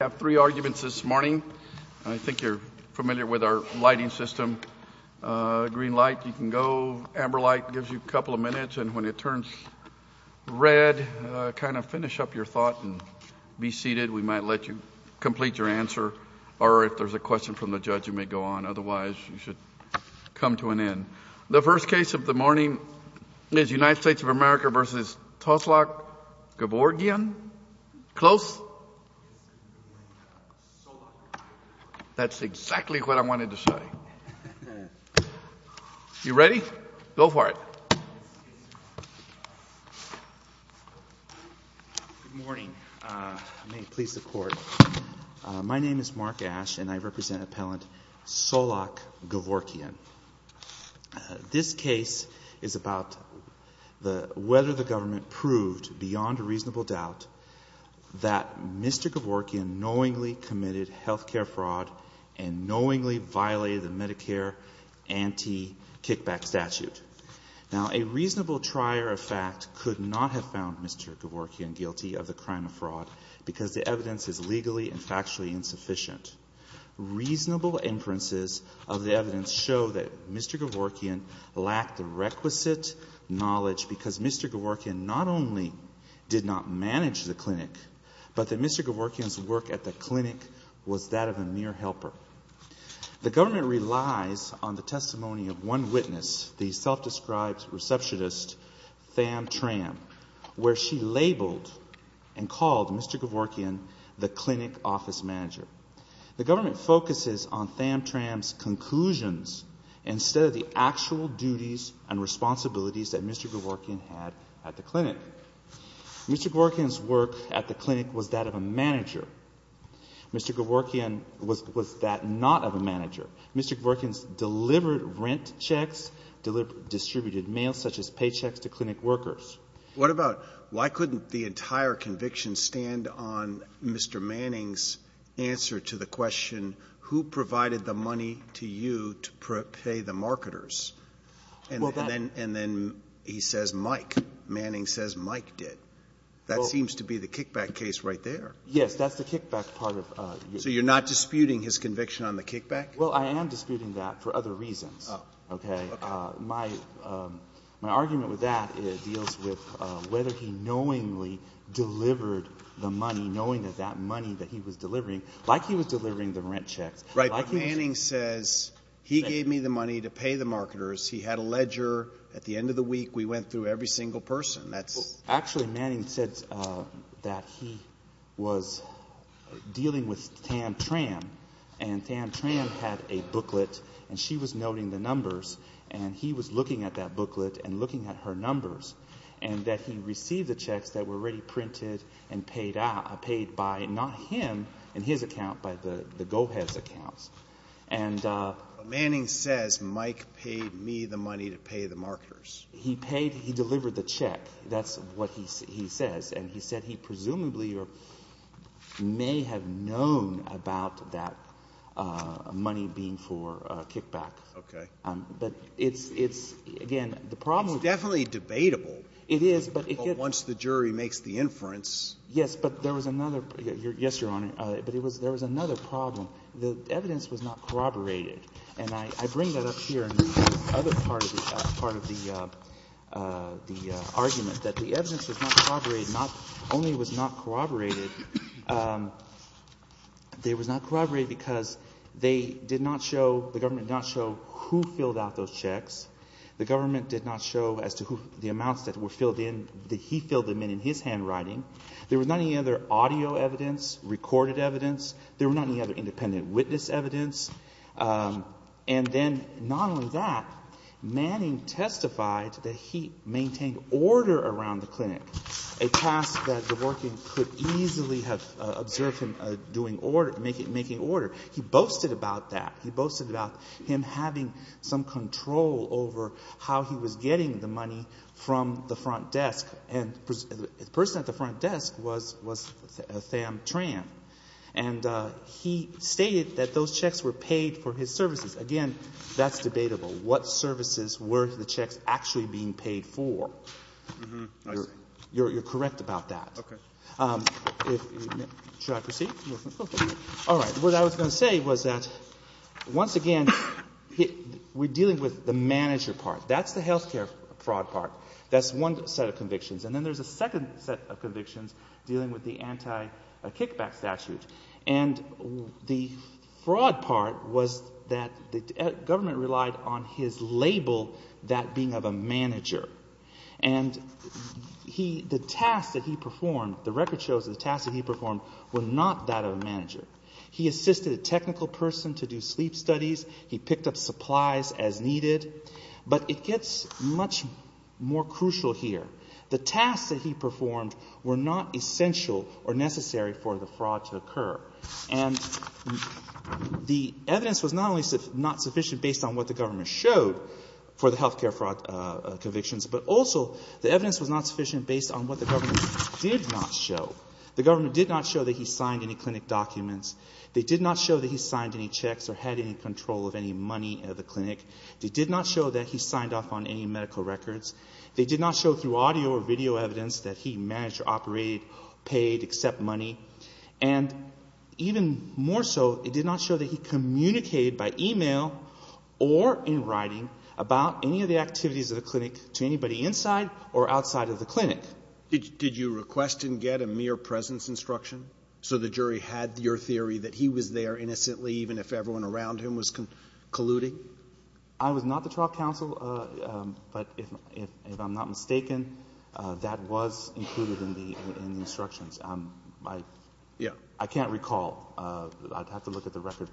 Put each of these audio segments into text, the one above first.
I have three arguments this morning. I think you're familiar with our lighting system. Green light, you can go. Amber light gives you a couple of minutes. And when it turns red, kind of finish up your thought and be seated. We might let you complete your answer, or if there's a question from the judge, you may go on. Otherwise, you should come to an end. The first case of the morning is United States of America v. Tsolak Gevorgyan. Close? That's exactly what I wanted to say. You ready? Go for it. Good morning. May it please the Court. My name is Mark Ash, and I represent Appellant Tsolak Gevorgyan. This case is about whether the government proved, beyond a reasonable doubt, that Mr. Gevorgyan knowingly committed health care fraud and knowingly violated the Medicare anti-kickback statute. Now, a reasonable trier of fact could not have found Mr. Gevorgyan guilty of the crime of fraud because the evidence is legally and factually insufficient. Reasonable inferences of the evidence show that Mr. Gevorgyan lacked the requisite knowledge because Mr. Gevorgyan not only did not manage the clinic, but that Mr. Gevorgyan's work at the clinic was that of a mere helper. The government relies on the testimony of one witness, the self-described receptionist, Tham Tram, where she labeled and called Mr. Gevorgyan the clinic office manager. The government focuses on Tham Tram's conclusions instead of the actual duties and responsibilities that Mr. Gevorgyan had at the clinic. Mr. Gevorgyan's work at the clinic was that of a manager. Mr. Gevorgyan was that not of a manager. Mr. Gevorgyan's delivered rent checks, distributed mail such as paychecks to clinic workers. What about why couldn't the entire conviction stand on Mr. Manning's answer to the question, who provided the money to you to pay the marketers? And then he says Mike. Manning says Mike did. That seems to be the kickback case right there. Yes, that's the kickback part of it. So you're not disputing his conviction on the kickback? Well, I am disputing that for other reasons. Okay. My argument with that deals with whether he knowingly delivered the money, knowing that that money that he was delivering, like he was delivering the rent checks. Right, but Manning says he gave me the money to pay the marketers. He had a ledger. At the end of the week, we went through every single person. Actually, Manning said that he was dealing with Tam Tran, and Tam Tran had a booklet and she was noting the numbers, and he was looking at that booklet and looking at her numbers, and that he received the checks that were already printed and paid by not him, in his account, but the GoHeads accounts. But Manning says Mike paid me the money to pay the marketers. He paid. He delivered the check. That's what he says. And he said he presumably may have known about that money being for kickback. Okay. But it's, again, the problem is — It's definitely debatable. It is, but it — Once the jury makes the inference — Yes, but there was another — yes, Your Honor, but there was another problem. The evidence was not corroborated. And I bring that up here in the other part of the argument, that the evidence was not corroborated. Not only was it not corroborated, it was not corroborated because they did not show, the government did not show who filled out those checks. The government did not show as to the amounts that were filled in, that he filled them in, in his handwriting. There was not any other audio evidence, recorded evidence. There was not any other independent witness evidence. And then, not only that, Manning testified that he maintained order around the clinic, a task that the working could easily have observed him doing order, making order. He boasted about that. He boasted about him having some control over how he was getting the money from the front desk. And the person at the front desk was Tham Tran. And he stated that those checks were paid for his services. Again, that's debatable. What services were the checks actually being paid for? You're correct about that. Should I proceed? All right. What I was going to say was that, once again, we're dealing with the manager part. That's the health care fraud part. That's one set of convictions. And then there's a second set of convictions dealing with the anti-kickback statute. And the fraud part was that the government relied on his label, that being of a manager. And the task that he performed, the record shows that the task that he performed was not that of a manager. He assisted a technical person to do sleep studies. He picked up supplies as needed. But it gets much more crucial here. The tasks that he performed were not essential or necessary for the fraud to occur. And the evidence was not only not sufficient based on what the government showed for the health care fraud convictions, but also the evidence was not sufficient based on what the government did not show. The government did not show that he signed any clinic documents. They did not show that he signed any checks or had any control of any money at the clinic. They did not show that he signed off on any medical records. They did not show through audio or video evidence that he managed to operate, paid, accept money. And even more so, it did not show that he communicated by e-mail or in writing about any of the activities of the clinic to anybody inside or outside of the clinic. Did you request and get a mere presence instruction so the jury had your theory that he was there innocently even if everyone around him was colluding? I was not the trial counsel, but if I'm not mistaken, that was included in the instructions. I can't recall. I'd have to look at the record.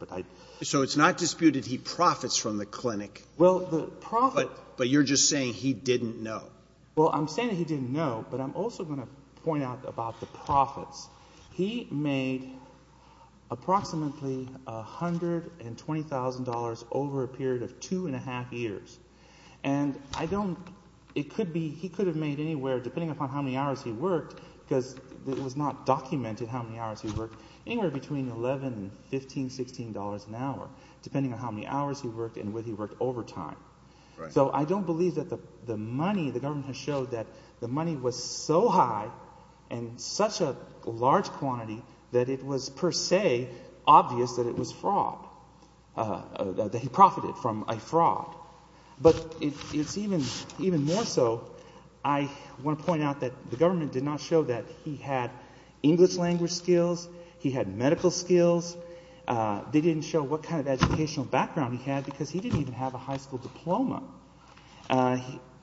So it's not disputed he profits from the clinic. Well, the profit— But you're just saying he didn't know. Well, I'm saying he didn't know, but I'm also going to point out about the profits. He made approximately $120,000 over a period of two and a half years. And I don't—it could be he could have made anywhere, depending upon how many hours he worked, because it was not documented how many hours he worked, anywhere between $11 and $15, $16 an hour, depending on how many hours he worked and whether he worked overtime. So I don't believe that the money, the government has showed that the money was so high and such a large quantity that it was per se obvious that it was fraud, that he profited from a fraud. But it's even more so—I want to point out that the government did not show that he had English language skills. He had medical skills. They didn't show what kind of educational background he had because he didn't even have a high school diploma.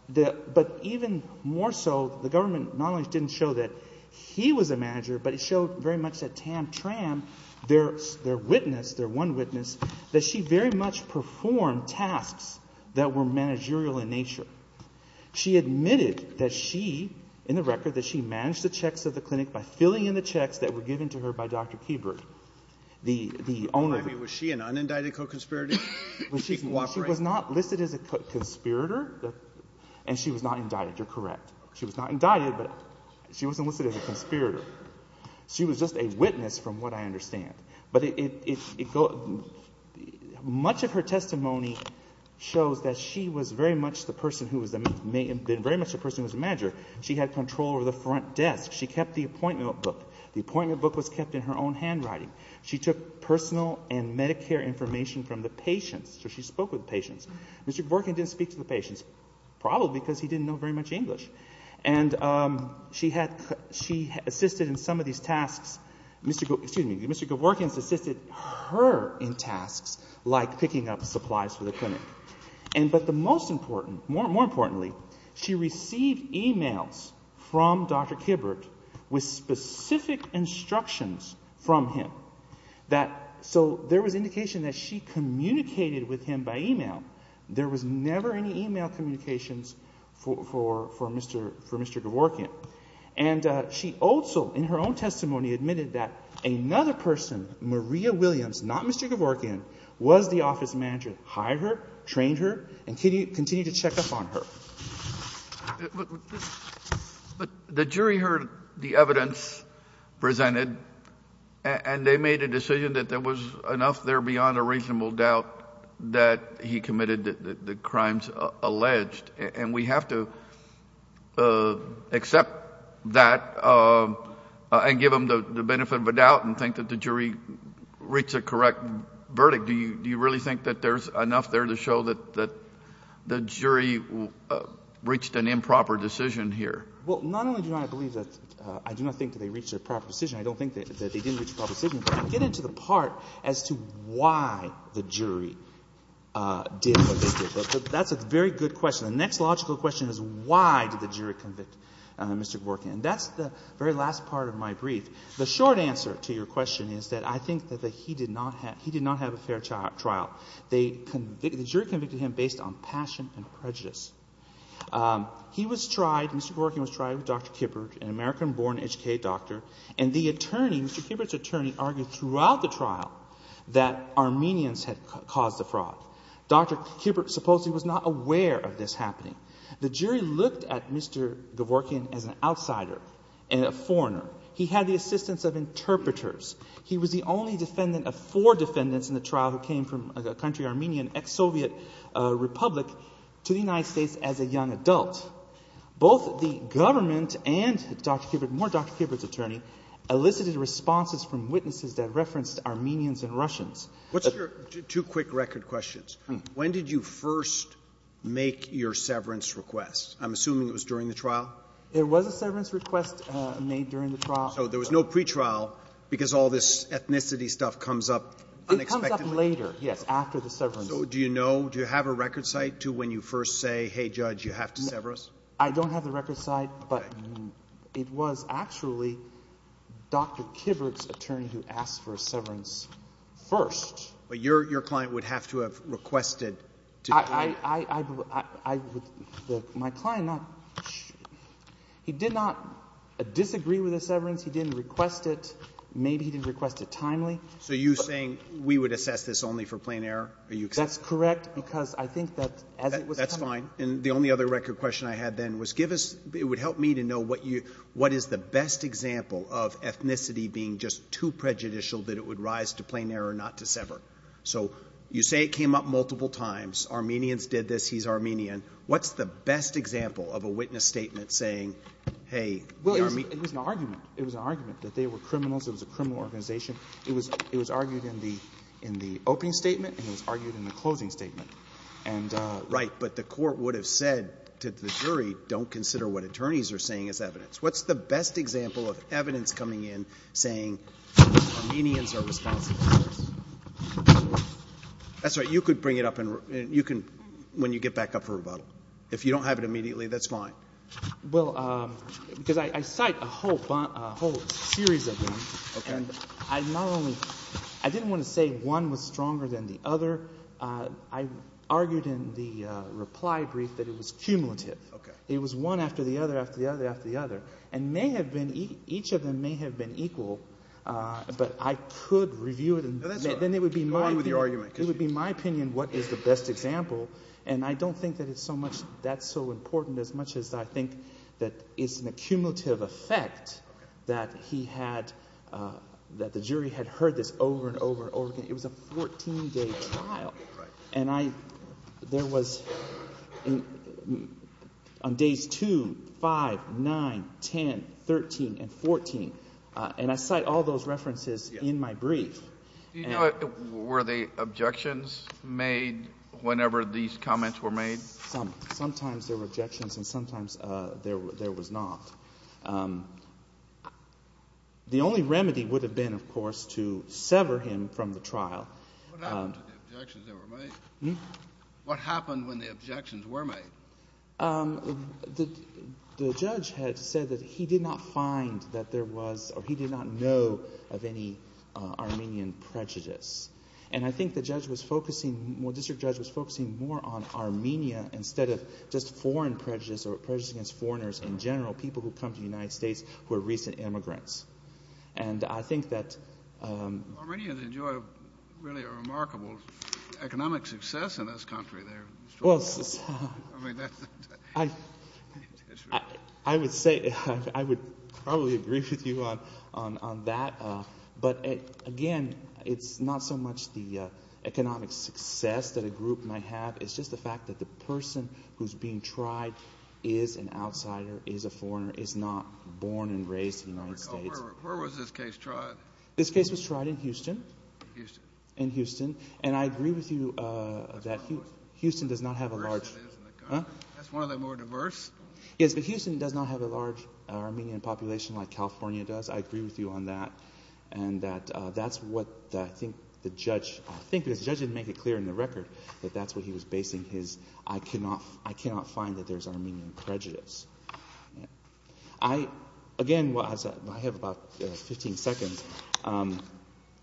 But even more so, the government not only didn't show that he was a manager, but it showed very much that Tam Tram, their witness, their one witness, that she very much performed tasks that were managerial in nature. She admitted that she, in the record, that she managed the checks of the clinic by filling in the checks that were given to her by Dr. Keeberg, the owner. I mean, was she an unindicted co-conspirator? She was not listed as a conspirator, and she was not indicted. You're correct. She was not indicted, but she wasn't listed as a conspirator. She was just a witness from what I understand. But much of her testimony shows that she was very much the person who was the manager. She had control over the front desk. She kept the appointment book. The appointment book was kept in her own handwriting. She took personal and Medicare information from the patients. So she spoke with the patients. Mr. Kevorkian didn't speak to the patients, probably because he didn't know very much English. And she assisted in some of these tasks. Mr. Kevorkian assisted her in tasks like picking up supplies for the clinic. But more importantly, she received e-mails from Dr. Keeberg with specific instructions from him. So there was indication that she communicated with him by e-mail. There was never any e-mail communications for Mr. Kevorkian. And she also in her own testimony admitted that another person, Maria Williams, not Mr. Kevorkian, was the office manager, hired her, trained her, and continued to check up on her. But the jury heard the evidence presented, and they made a decision that there was enough there beyond a reasonable doubt that he committed the crimes alleged. And we have to accept that and give them the benefit of the doubt and think that the jury reached a correct verdict. Mr. Kevorkian, do you really think that there's enough there to show that the jury reached an improper decision here? Well, not only do I believe that I do not think that they reached a proper decision, I don't think that they didn't reach a proper decision, but I get into the part as to why the jury did what they did. But that's a very good question. The next logical question is why did the jury convict Mr. Kevorkian? And that's the very last part of my brief. The short answer to your question is that I think that he did not have a fair trial. The jury convicted him based on passion and prejudice. He was tried, Mr. Kevorkian was tried with Dr. Kibbert, an American-born, educated doctor, and the attorney, Mr. Kibbert's attorney, argued throughout the trial that Armenians had caused the fraud. Dr. Kibbert supposedly was not aware of this happening. The jury looked at Mr. Kevorkian as an outsider and a foreigner. He had the assistance of interpreters. He was the only defendant of four defendants in the trial who came from a country, Armenian, ex-Soviet Republic, to the United States as a young adult. Both the government and Dr. Kibbert, more Dr. Kibbert's attorney, elicited responses from witnesses that referenced Armenians and Russians. What's your two quick record questions? When did you first make your severance request? I'm assuming it was during the trial? There was a severance request made during the trial. So there was no pretrial because all this ethnicity stuff comes up unexpectedly? It comes up later, yes, after the severance. So do you know, do you have a record cite to when you first say, hey, judge, you have to sever us? I don't have the record cite, but it was actually Dr. Kibbert's attorney who asked for a severance first. My client, he did not disagree with the severance. He didn't request it. Maybe he didn't request it timely. So you're saying we would assess this only for plain error? That's correct because I think that as it was timely. That's fine. And the only other record question I had then was give us, it would help me to know what is the best example of ethnicity being just too prejudicial that it would rise to plain error not to sever. So you say it came up multiple times. Armenians did this. He's Armenian. What's the best example of a witness statement saying, hey, the Armenians. Well, it was an argument. It was an argument that they were criminals. It was a criminal organization. It was argued in the opening statement and it was argued in the closing statement. Right, but the court would have said to the jury, don't consider what attorneys are saying as evidence. What's the best example of evidence coming in saying Armenians are responsible? That's right. You could bring it up when you get back up for rebuttal. If you don't have it immediately, that's fine. Well, because I cite a whole series of them. Okay. And I not only — I didn't want to say one was stronger than the other. I argued in the reply brief that it was cumulative. Okay. It was one after the other, after the other, after the other. And may have been — each of them may have been equal, but I could review it and then it would be my opinion. Go on with your argument. It would be my opinion what is the best example. And I don't think that it's so much that's so important as much as I think that it's an accumulative effect that he had — that the jury had heard this over and over and over again. It was a 14-day trial. Right. And I — there was on days 2, 5, 9, 10, 13, and 14. And I cite all those references in my brief. Were the objections made whenever these comments were made? Some. Sometimes there were objections and sometimes there was not. The only remedy would have been, of course, to sever him from the trial. What happened to the objections that were made? Hmm? What happened when the objections were made? The judge had said that he did not find that there was or he did not know of any Armenian prejudice. And I think the judge was focusing — the district judge was focusing more on Armenia instead of just foreign prejudice or prejudice against foreigners in general, people who come to the United States who are recent immigrants. And I think that — Armenians enjoy, really, a remarkable economic success in this country. Well, I would say — I would probably agree with you on that. But, again, it's not so much the economic success that a group might have. It's just the fact that the person who's being tried is an outsider, is a foreigner, is not born and raised in the United States. Where was this case tried? This case was tried in Houston. Houston. In Houston. And I agree with you that Houston does not have a large — That's one of the more diverse. Yes, but Houston does not have a large Armenian population like California does. I agree with you on that. And that's what I think the judge — I think the judge didn't make it clear in the record that that's what he was basing his — I cannot find that there's Armenian prejudice. I, again — well, I have about 15 seconds.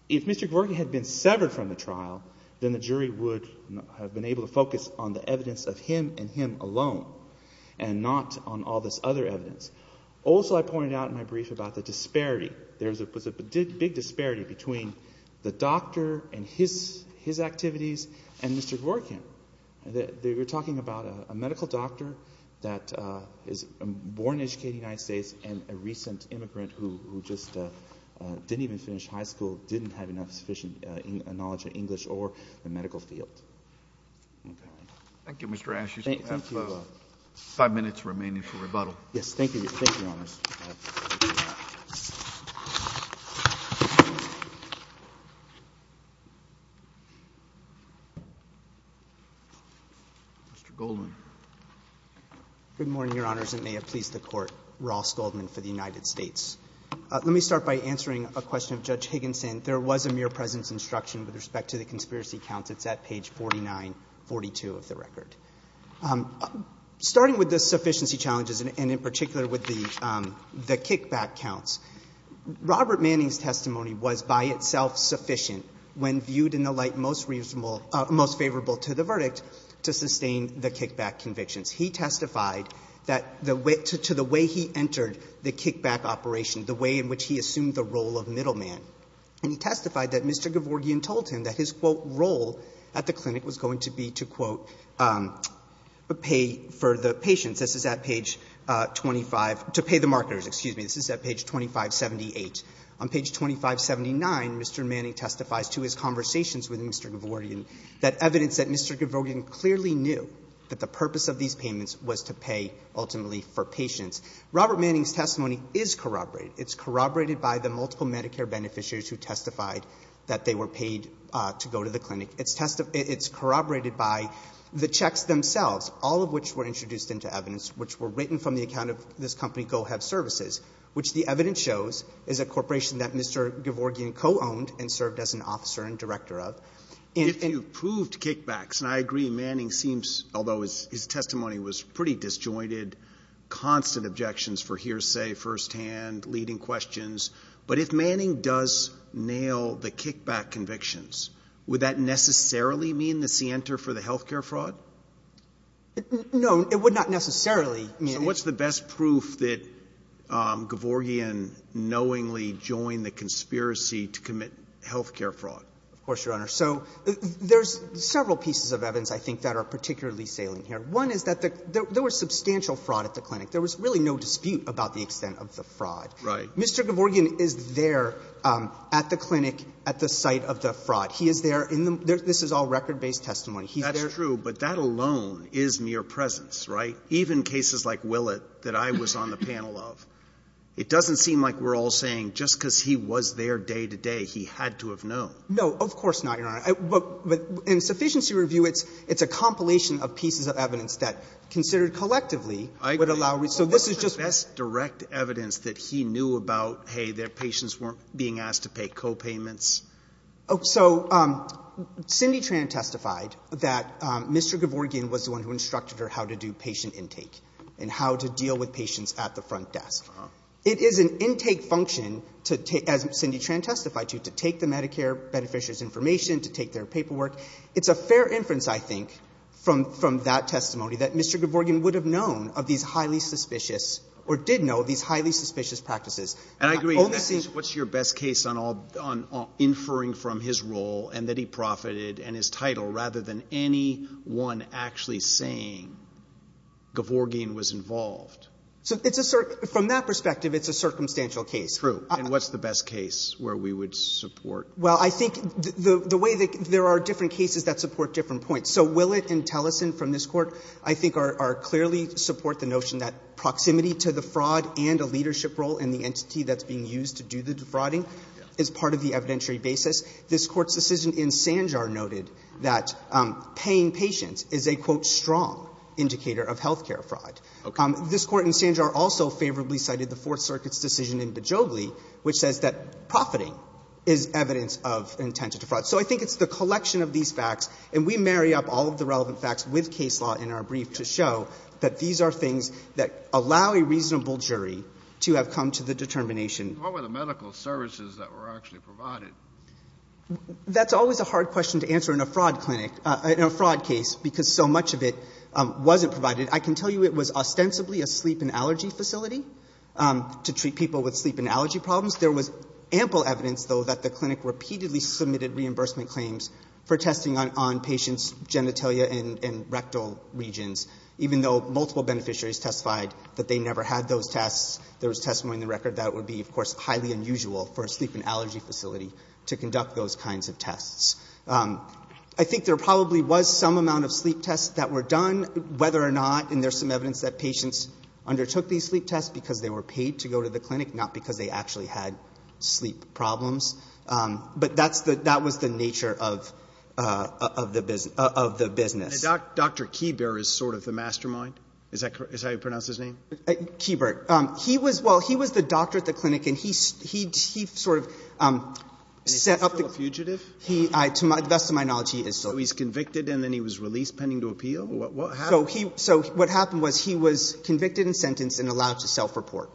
If Mr. Gvorky had been severed from the trial, then the jury would have been able to focus on the evidence of him and him alone and not on all this other evidence. Also, I pointed out in my brief about the disparity. There was a big disparity between the doctor and his activities and Mr. Gvorky. They were talking about a medical doctor that is born and educated in the United States and a recent immigrant who just didn't even finish high school, didn't have enough sufficient knowledge of English or the medical field. Okay. Thank you, Mr. Ashe. You still have five minutes remaining for rebuttal. Yes, thank you. Thank you, Your Honors. Mr. Goldman. Good morning, Your Honors. It may have pleased the Court. Ross Goldman for the United States. Let me start by answering a question of Judge Higginson. There was a mere presence instruction with respect to the conspiracy counts. It's at page 4942 of the record. Starting with the sufficiency challenges and in particular with the kickback counts, Robert Manning's testimony was by itself sufficient when viewed in the light most favorable to the verdict to sustain the kickback convictions. He testified to the way he entered the kickback operation, the way in which he assumed the role of middleman. And he testified that Mr. Gavorgian told him that his, quote, role at the clinic was going to be to, quote, pay for the patients. This is at page 25, to pay the marketers, excuse me. This is at page 2578. On page 2579, Mr. Manning testifies to his conversations with Mr. Gavorgian that evidence that Mr. Gavorgian clearly knew that the purpose of these payments was to pay ultimately for patients. Robert Manning's testimony is corroborated. It's corroborated by the multiple Medicare beneficiaries who testified that they were paid to go to the clinic. It's corroborated by the checks themselves, all of which were introduced into evidence, which were written from the account of this company, Go Have Services, which the evidence shows is a corporation that Mr. Gavorgian co-owned and served as an officer and director of. If you proved kickbacks, and I agree, Manning seems, although his testimony was pretty disjointed, constant objections for hearsay firsthand, leading questions. But if Manning does nail the kickback convictions, would that necessarily mean the scienter for the health care fraud? No, it would not necessarily. So what's the best proof that Gavorgian knowingly joined the conspiracy to commit health care fraud? Of course, Your Honor. So there's several pieces of evidence I think that are particularly salient here. One is that there was substantial fraud at the clinic. There was really no dispute about the extent of the fraud. Right. Mr. Gavorgian is there at the clinic at the site of the fraud. He is there in the — this is all record-based testimony. That's true, but that alone is mere presence, right? Even cases like Willett that I was on the panel of. It doesn't seem like we're all saying just because he was there day to day, he had to have known. No, of course not, Your Honor. But in sufficiency review, it's a compilation of pieces of evidence that considered collectively would allow — So what's the best direct evidence that he knew about, hey, their patients weren't being asked to pay copayments? So Cindy Tran testified that Mr. Gavorgian was the one who instructed her how to do patient intake and how to deal with patients at the front desk. It is an intake function, as Cindy Tran testified to, to take the Medicare beneficiaries' information, to take their paperwork. It's a fair inference, I think, from that testimony that Mr. Gavorgian would have known of these highly suspicious or did know of these highly suspicious practices. And I agree. What's your best case on inferring from his role and that he profited and his title rather than anyone actually saying Gavorgian was involved? So it's a — from that perspective, it's a circumstantial case. True. And what's the best case where we would support? Well, I think the way that — there are different cases that support different points. So Willett and Tellison from this Court I think are — clearly support the notion that proximity to the fraud and a leadership role and the entity that's being used to do the defrauding is part of the evidentiary basis. This Court's decision in Sanjar noted that paying patients is a, quote, strong indicator of health care fraud. This Court in Sanjar also favorably cited the Fourth Circuit's decision in Bejogli which says that profiting is evidence of intent to defraud. So I think it's the collection of these facts, and we marry up all of the relevant facts with case law in our brief to show that these are things that allow a reasonable jury to have come to the determination. What were the medical services that were actually provided? That's always a hard question to answer in a fraud clinic — in a fraud case because so much of it wasn't provided. I can tell you it was ostensibly a sleep and allergy facility to treat people with sleep and allergy problems. There was ample evidence, though, that the clinic repeatedly submitted reimbursement claims for testing on patients' genitalia and rectal regions, even though multiple beneficiaries testified that they never had those tests. There was testimony in the record that it would be, of course, highly unusual for a sleep and allergy facility to conduct those kinds of tests. I think there probably was some amount of sleep tests that were done, whether or not — and there's some evidence that patients undertook these sleep tests because they were paid to go to the clinic, not because they actually had sleep problems. But that was the nature of the business. And Dr. Kieber is sort of the mastermind? Is that how you pronounce his name? Kieber. Well, he was the doctor at the clinic, and he sort of set up the — So he's convicted and then he was released pending to appeal? What happened? So what happened was he was convicted and sentenced and allowed to self-report,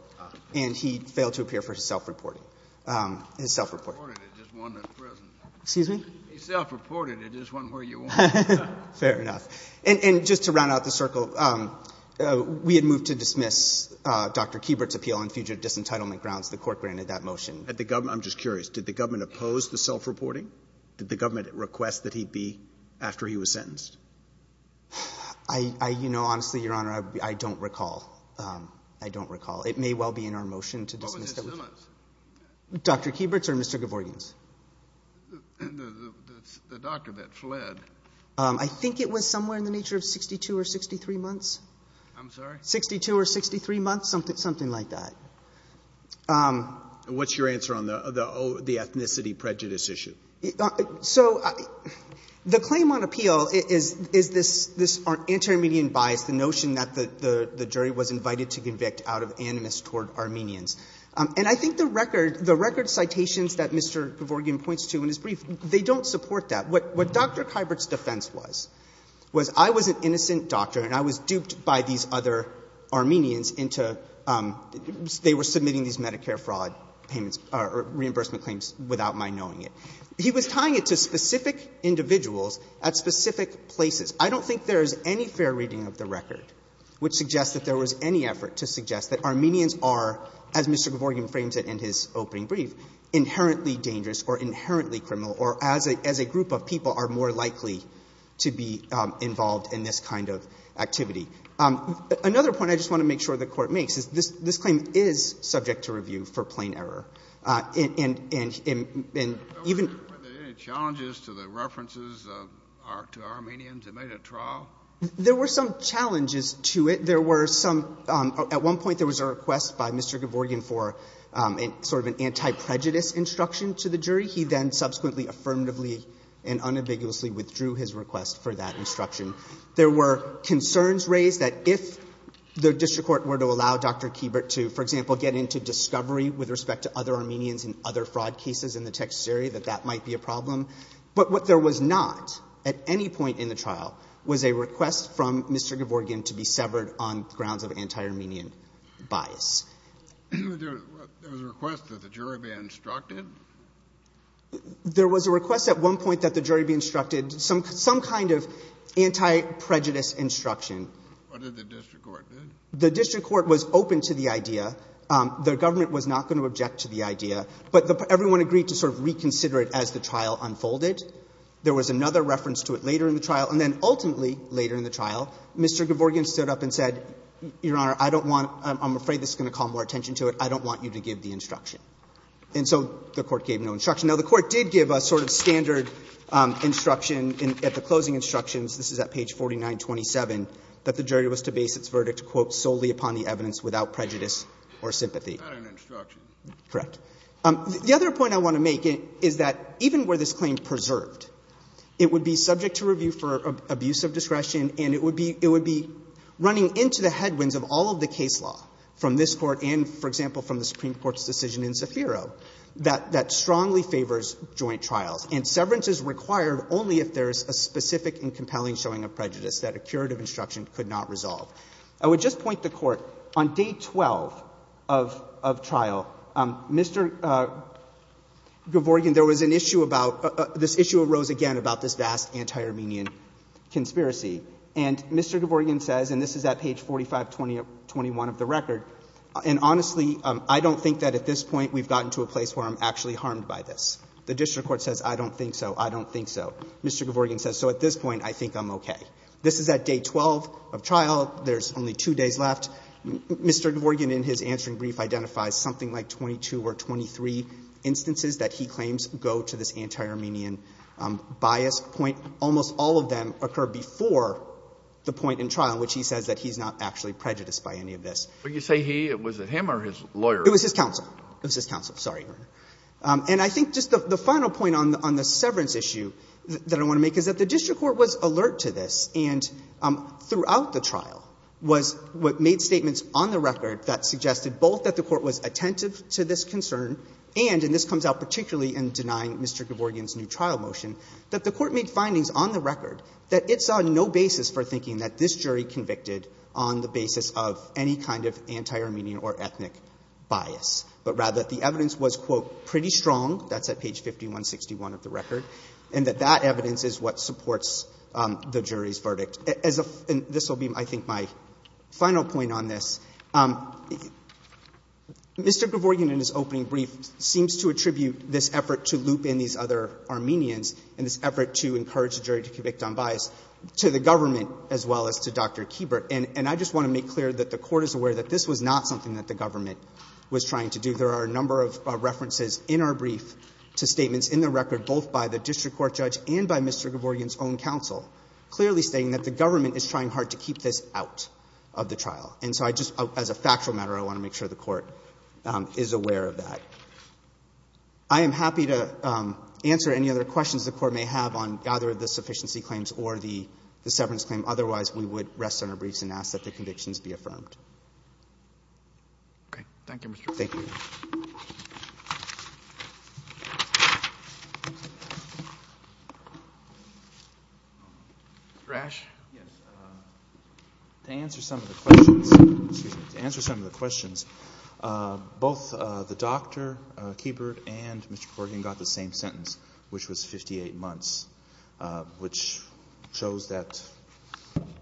and he failed to appear for his self-reporting. His self-reporting. He self-reported. It just wasn't where you wanted it. Fair enough. And just to round out the circle, we had moved to dismiss Dr. Kieber's appeal on future disentitlement grounds. The Court granted that motion. I'm just curious. Did the government oppose the self-reporting? Did the government request that he be — after he was sentenced? You know, honestly, Your Honor, I don't recall. I don't recall. It may well be in our motion to dismiss — What was his illness? Dr. Kieber's or Mr. Gavorgan's? The doctor that fled. I think it was somewhere in the nature of 62 or 63 months. I'm sorry? 62 or 63 months, something like that. What's your answer on the ethnicity prejudice issue? So the claim on appeal is this anti-Armenian bias, the notion that the jury was invited to convict out of animus toward Armenians. And I think the record citations that Mr. Gavorgan points to in his brief, they don't support that. What Dr. Kieber's defense was, was I was an innocent doctor and I was duped by these other Armenians into — they were submitting these Medicare fraud payments or reimbursement claims without my knowing it. He was tying it to specific individuals at specific places. I don't think there is any fair reading of the record which suggests that there was any effort to suggest that Armenians are, as Mr. Gavorgan frames it in his opening brief, inherently dangerous or inherently criminal or as a group of people are more sensitive to this type of activity. Another point I just want to make sure the Court makes is this claim is subject to review for plain error. And even — Were there any challenges to the references to Armenians that made a trial? There were some challenges to it. There were some — at one point there was a request by Mr. Gavorgan for sort of an anti-prejudice instruction to the jury. He then subsequently affirmatively and unambiguously withdrew his request for that There were concerns raised that if the district court were to allow Dr. Kiebert to, for example, get into discovery with respect to other Armenians in other fraud cases in the Texas area, that that might be a problem. But what there was not at any point in the trial was a request from Mr. Gavorgan to be severed on grounds of anti-Armenian bias. There was a request that the jury be instructed? There was a request at one point that the jury be instructed. Some kind of anti-prejudice instruction. What did the district court do? The district court was open to the idea. The government was not going to object to the idea. But everyone agreed to sort of reconsider it as the trial unfolded. There was another reference to it later in the trial. And then ultimately later in the trial, Mr. Gavorgan stood up and said, Your Honor, I don't want — I'm afraid this is going to call more attention to it. I don't want you to give the instruction. And so the Court gave no instruction. Now, the Court did give a sort of standard instruction at the closing instructions — this is at page 4927 — that the jury was to base its verdict, quote, solely upon the evidence without prejudice or sympathy. Not an instruction. Correct. The other point I want to make is that even were this claim preserved, it would be subject to review for abuse of discretion, and it would be running into the headwinds of all of the case law from this Court and, for example, from the Supreme Court's decision in Zafiro that strongly favors joint trials. And severance is required only if there is a specific and compelling showing of prejudice that a curative instruction could not resolve. I would just point the Court. On day 12 of trial, Mr. Gavorgan, there was an issue about — this issue arose again about this vast anti-Armenian conspiracy. And Mr. Gavorgan says, and this is at page 4521 of the record, and honestly, I don't think that at this point we've gotten to a place where I'm actually harmed by this. The district court says, I don't think so. I don't think so. Mr. Gavorgan says, so at this point, I think I'm okay. This is at day 12 of trial. There's only two days left. Mr. Gavorgan, in his answering brief, identifies something like 22 or 23 instances that he claims go to this anti-Armenian bias point. Almost all of them occur before the point in trial in which he says that he's not actually prejudiced by any of this. But you say he? Was it him or his lawyer? It was his counsel. It was his counsel. Sorry, Your Honor. And I think just the final point on the severance issue that I want to make is that the district court was alert to this. And throughout the trial was what made statements on the record that suggested both that the court was attentive to this concern and, and this comes out particularly in denying Mr. Gavorgan's new trial motion, that the court made findings on the record that it's on no basis for thinking that this jury convicted on the basis of any kind of anti-Armenian or ethnic bias, but rather that the evidence was, quote, pretty strong, that's at page 5161 of the record, and that that evidence is what supports the jury's verdict. And this will be, I think, my final point on this. Mr. Gavorgan, in his opening brief, seems to attribute this effort to loop in these other Armenians and this effort to encourage the jury to convict on bias to the government as well as to Dr. Kiebert. And I just want to make clear that the court is aware that this was not something that the government was trying to do. There are a number of references in our brief to statements in the record, both by the district court judge and by Mr. Gavorgan's own counsel, clearly stating that the government is trying hard to keep this out of the trial. And so I just, as a factual matter, I want to make sure the court is aware of that. I am happy to answer any other questions the court may have on either the sufficiency claims or the severance claim. Otherwise, we would rest on our briefs and ask that the convictions be affirmed. Okay. Thank you, Mr. Gavorgan. Thank you. Mr. Ash? Yes. To answer some of the questions, both the doctor, Kiebert, and Mr. Gavorgan got the same sentence, which was 58 months, which shows that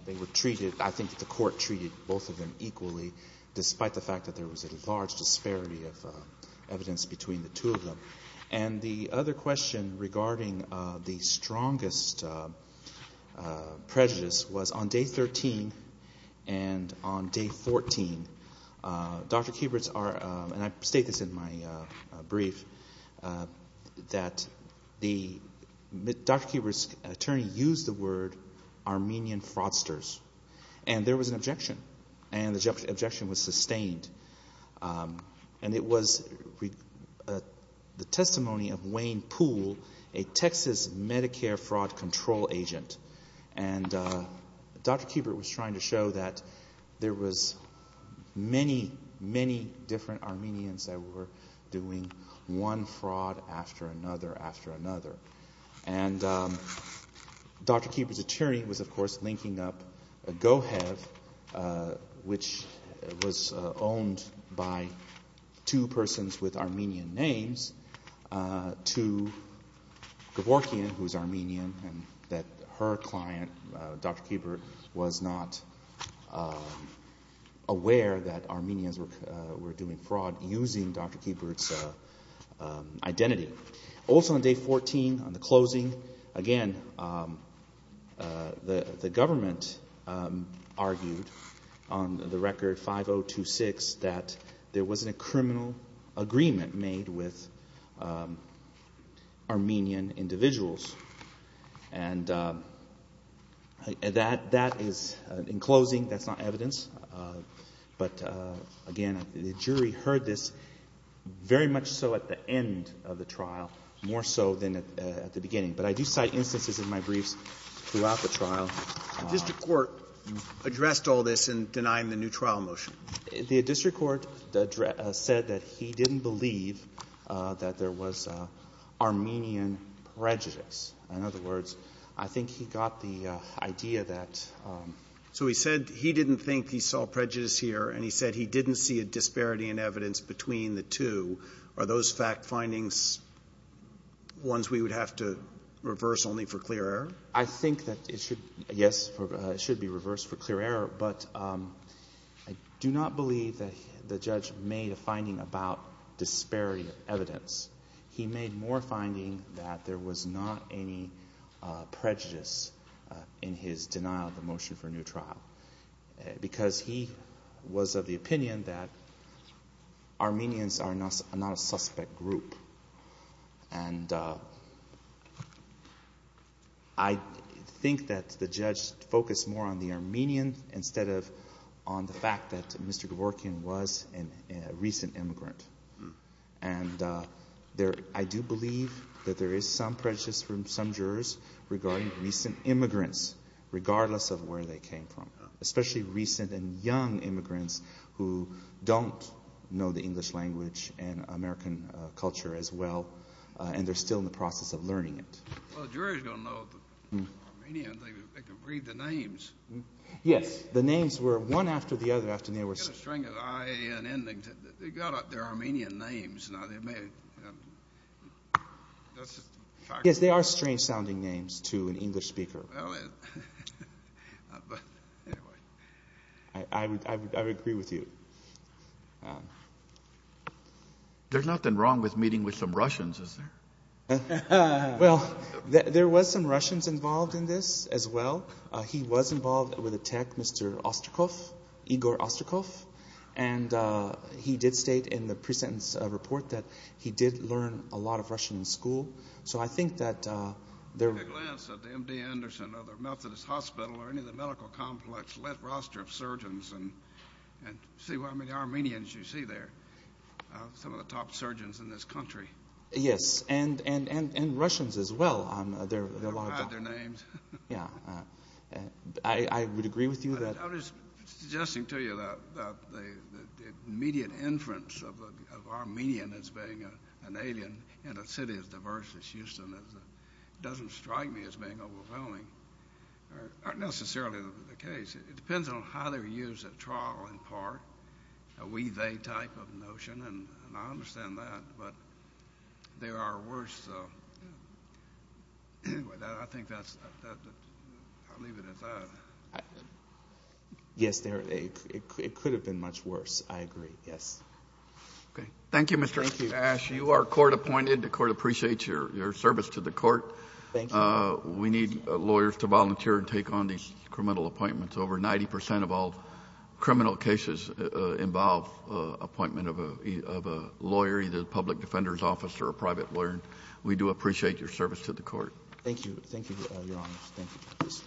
they were treated, I think the court treated both of them equally, despite the fact that there was a large disparity of evidence between the two of them. And the other question regarding the strongest prejudice was on day 13 and on day 14, Dr. Kiebert's, and I state this in my brief, that Dr. Kiebert's attorney used the word Armenian fraudsters. And there was an objection. And the objection was sustained. And it was the testimony of Wayne Poole, a Texas Medicare fraud control agent. And Dr. Kiebert was trying to show that there was many, many different Armenians that were doing one fraud after another after another. And Dr. Kiebert's attorney was, of course, linking up GoHev, which was owned by two persons with Armenian names, to Gavorgan, who was Armenian, and that her client, Dr. Kiebert, was not aware that Armenians were doing fraud using Dr. Kiebert's identity. Also on day 14, on the closing, again, the government argued on the record 5026 that there wasn't a criminal agreement made with Armenian individuals. And that is, in closing, that's not evidence. But, again, the jury heard this very much so at the end of the trial, more so than at the beginning. But I do cite instances in my briefs throughout the trial. The district court addressed all this in denying the new trial motion. The district court said that he didn't believe that there was Armenian prejudice. In other words, I think he got the idea that — So he said he didn't think he saw prejudice here, and he said he didn't see a disparity in evidence between the two. Are those fact findings ones we would have to reverse only for clear error? I think that it should, yes, it should be reversed for clear error. But I do not believe that the judge made a finding about disparity of evidence. He made more finding that there was not any prejudice in his denial of the motion for a new trial because he was of the opinion that Armenians are not a suspect group. And I think that the judge focused more on the Armenian instead of on the fact that Mr. Gavorkian was a recent immigrant. And I do believe that there is some prejudice from some jurors regarding recent immigrants, regardless of where they came from, especially recent and young immigrants who don't know the English language and American culture as well, and they're still in the process of learning it. Well, the jurors don't know if they're Armenian. They can read the names. Yes. The names were one after the other. They got up their Armenian names. Yes, they are strange-sounding names to an English speaker. I would agree with you. There's nothing wrong with meeting with some Russians, is there? Well, there was some Russians involved in this as well. He was involved with a tech, Mr. Osterkoff, Igor Osterkoff, and he did state in the pre-sentence report that he did learn a lot of Russian in school. So I think that there... Take a glance at the MD Anderson or the Methodist Hospital or any of the medical complex roster of surgeons and see how many Armenians you see there, some of the top surgeons in this country. Yes, and Russians as well. They're proud of their names. Yes. I would agree with you that... I was just suggesting to you that the immediate inference of Armenian as being an alien in a city as diverse as Houston doesn't strike me as being overwhelming. It's not necessarily the case. It depends on how they're used at trial in part, a we-they type of notion, and I understand that, but they are worse. Anyway, I think that's... I'll leave it at that. Yes, it could have been much worse. I agree. Yes. Okay. Thank you, Mr. Ash. Thank you. You are court appointed. The court appreciates your service to the court. Thank you. We need lawyers to volunteer and take on these criminal appointments. Over 90% of all criminal cases involve appointment of a lawyer, either the public defender's office or a private lawyer. We do appreciate your service to the court. Thank you. Thank you, Your Honor.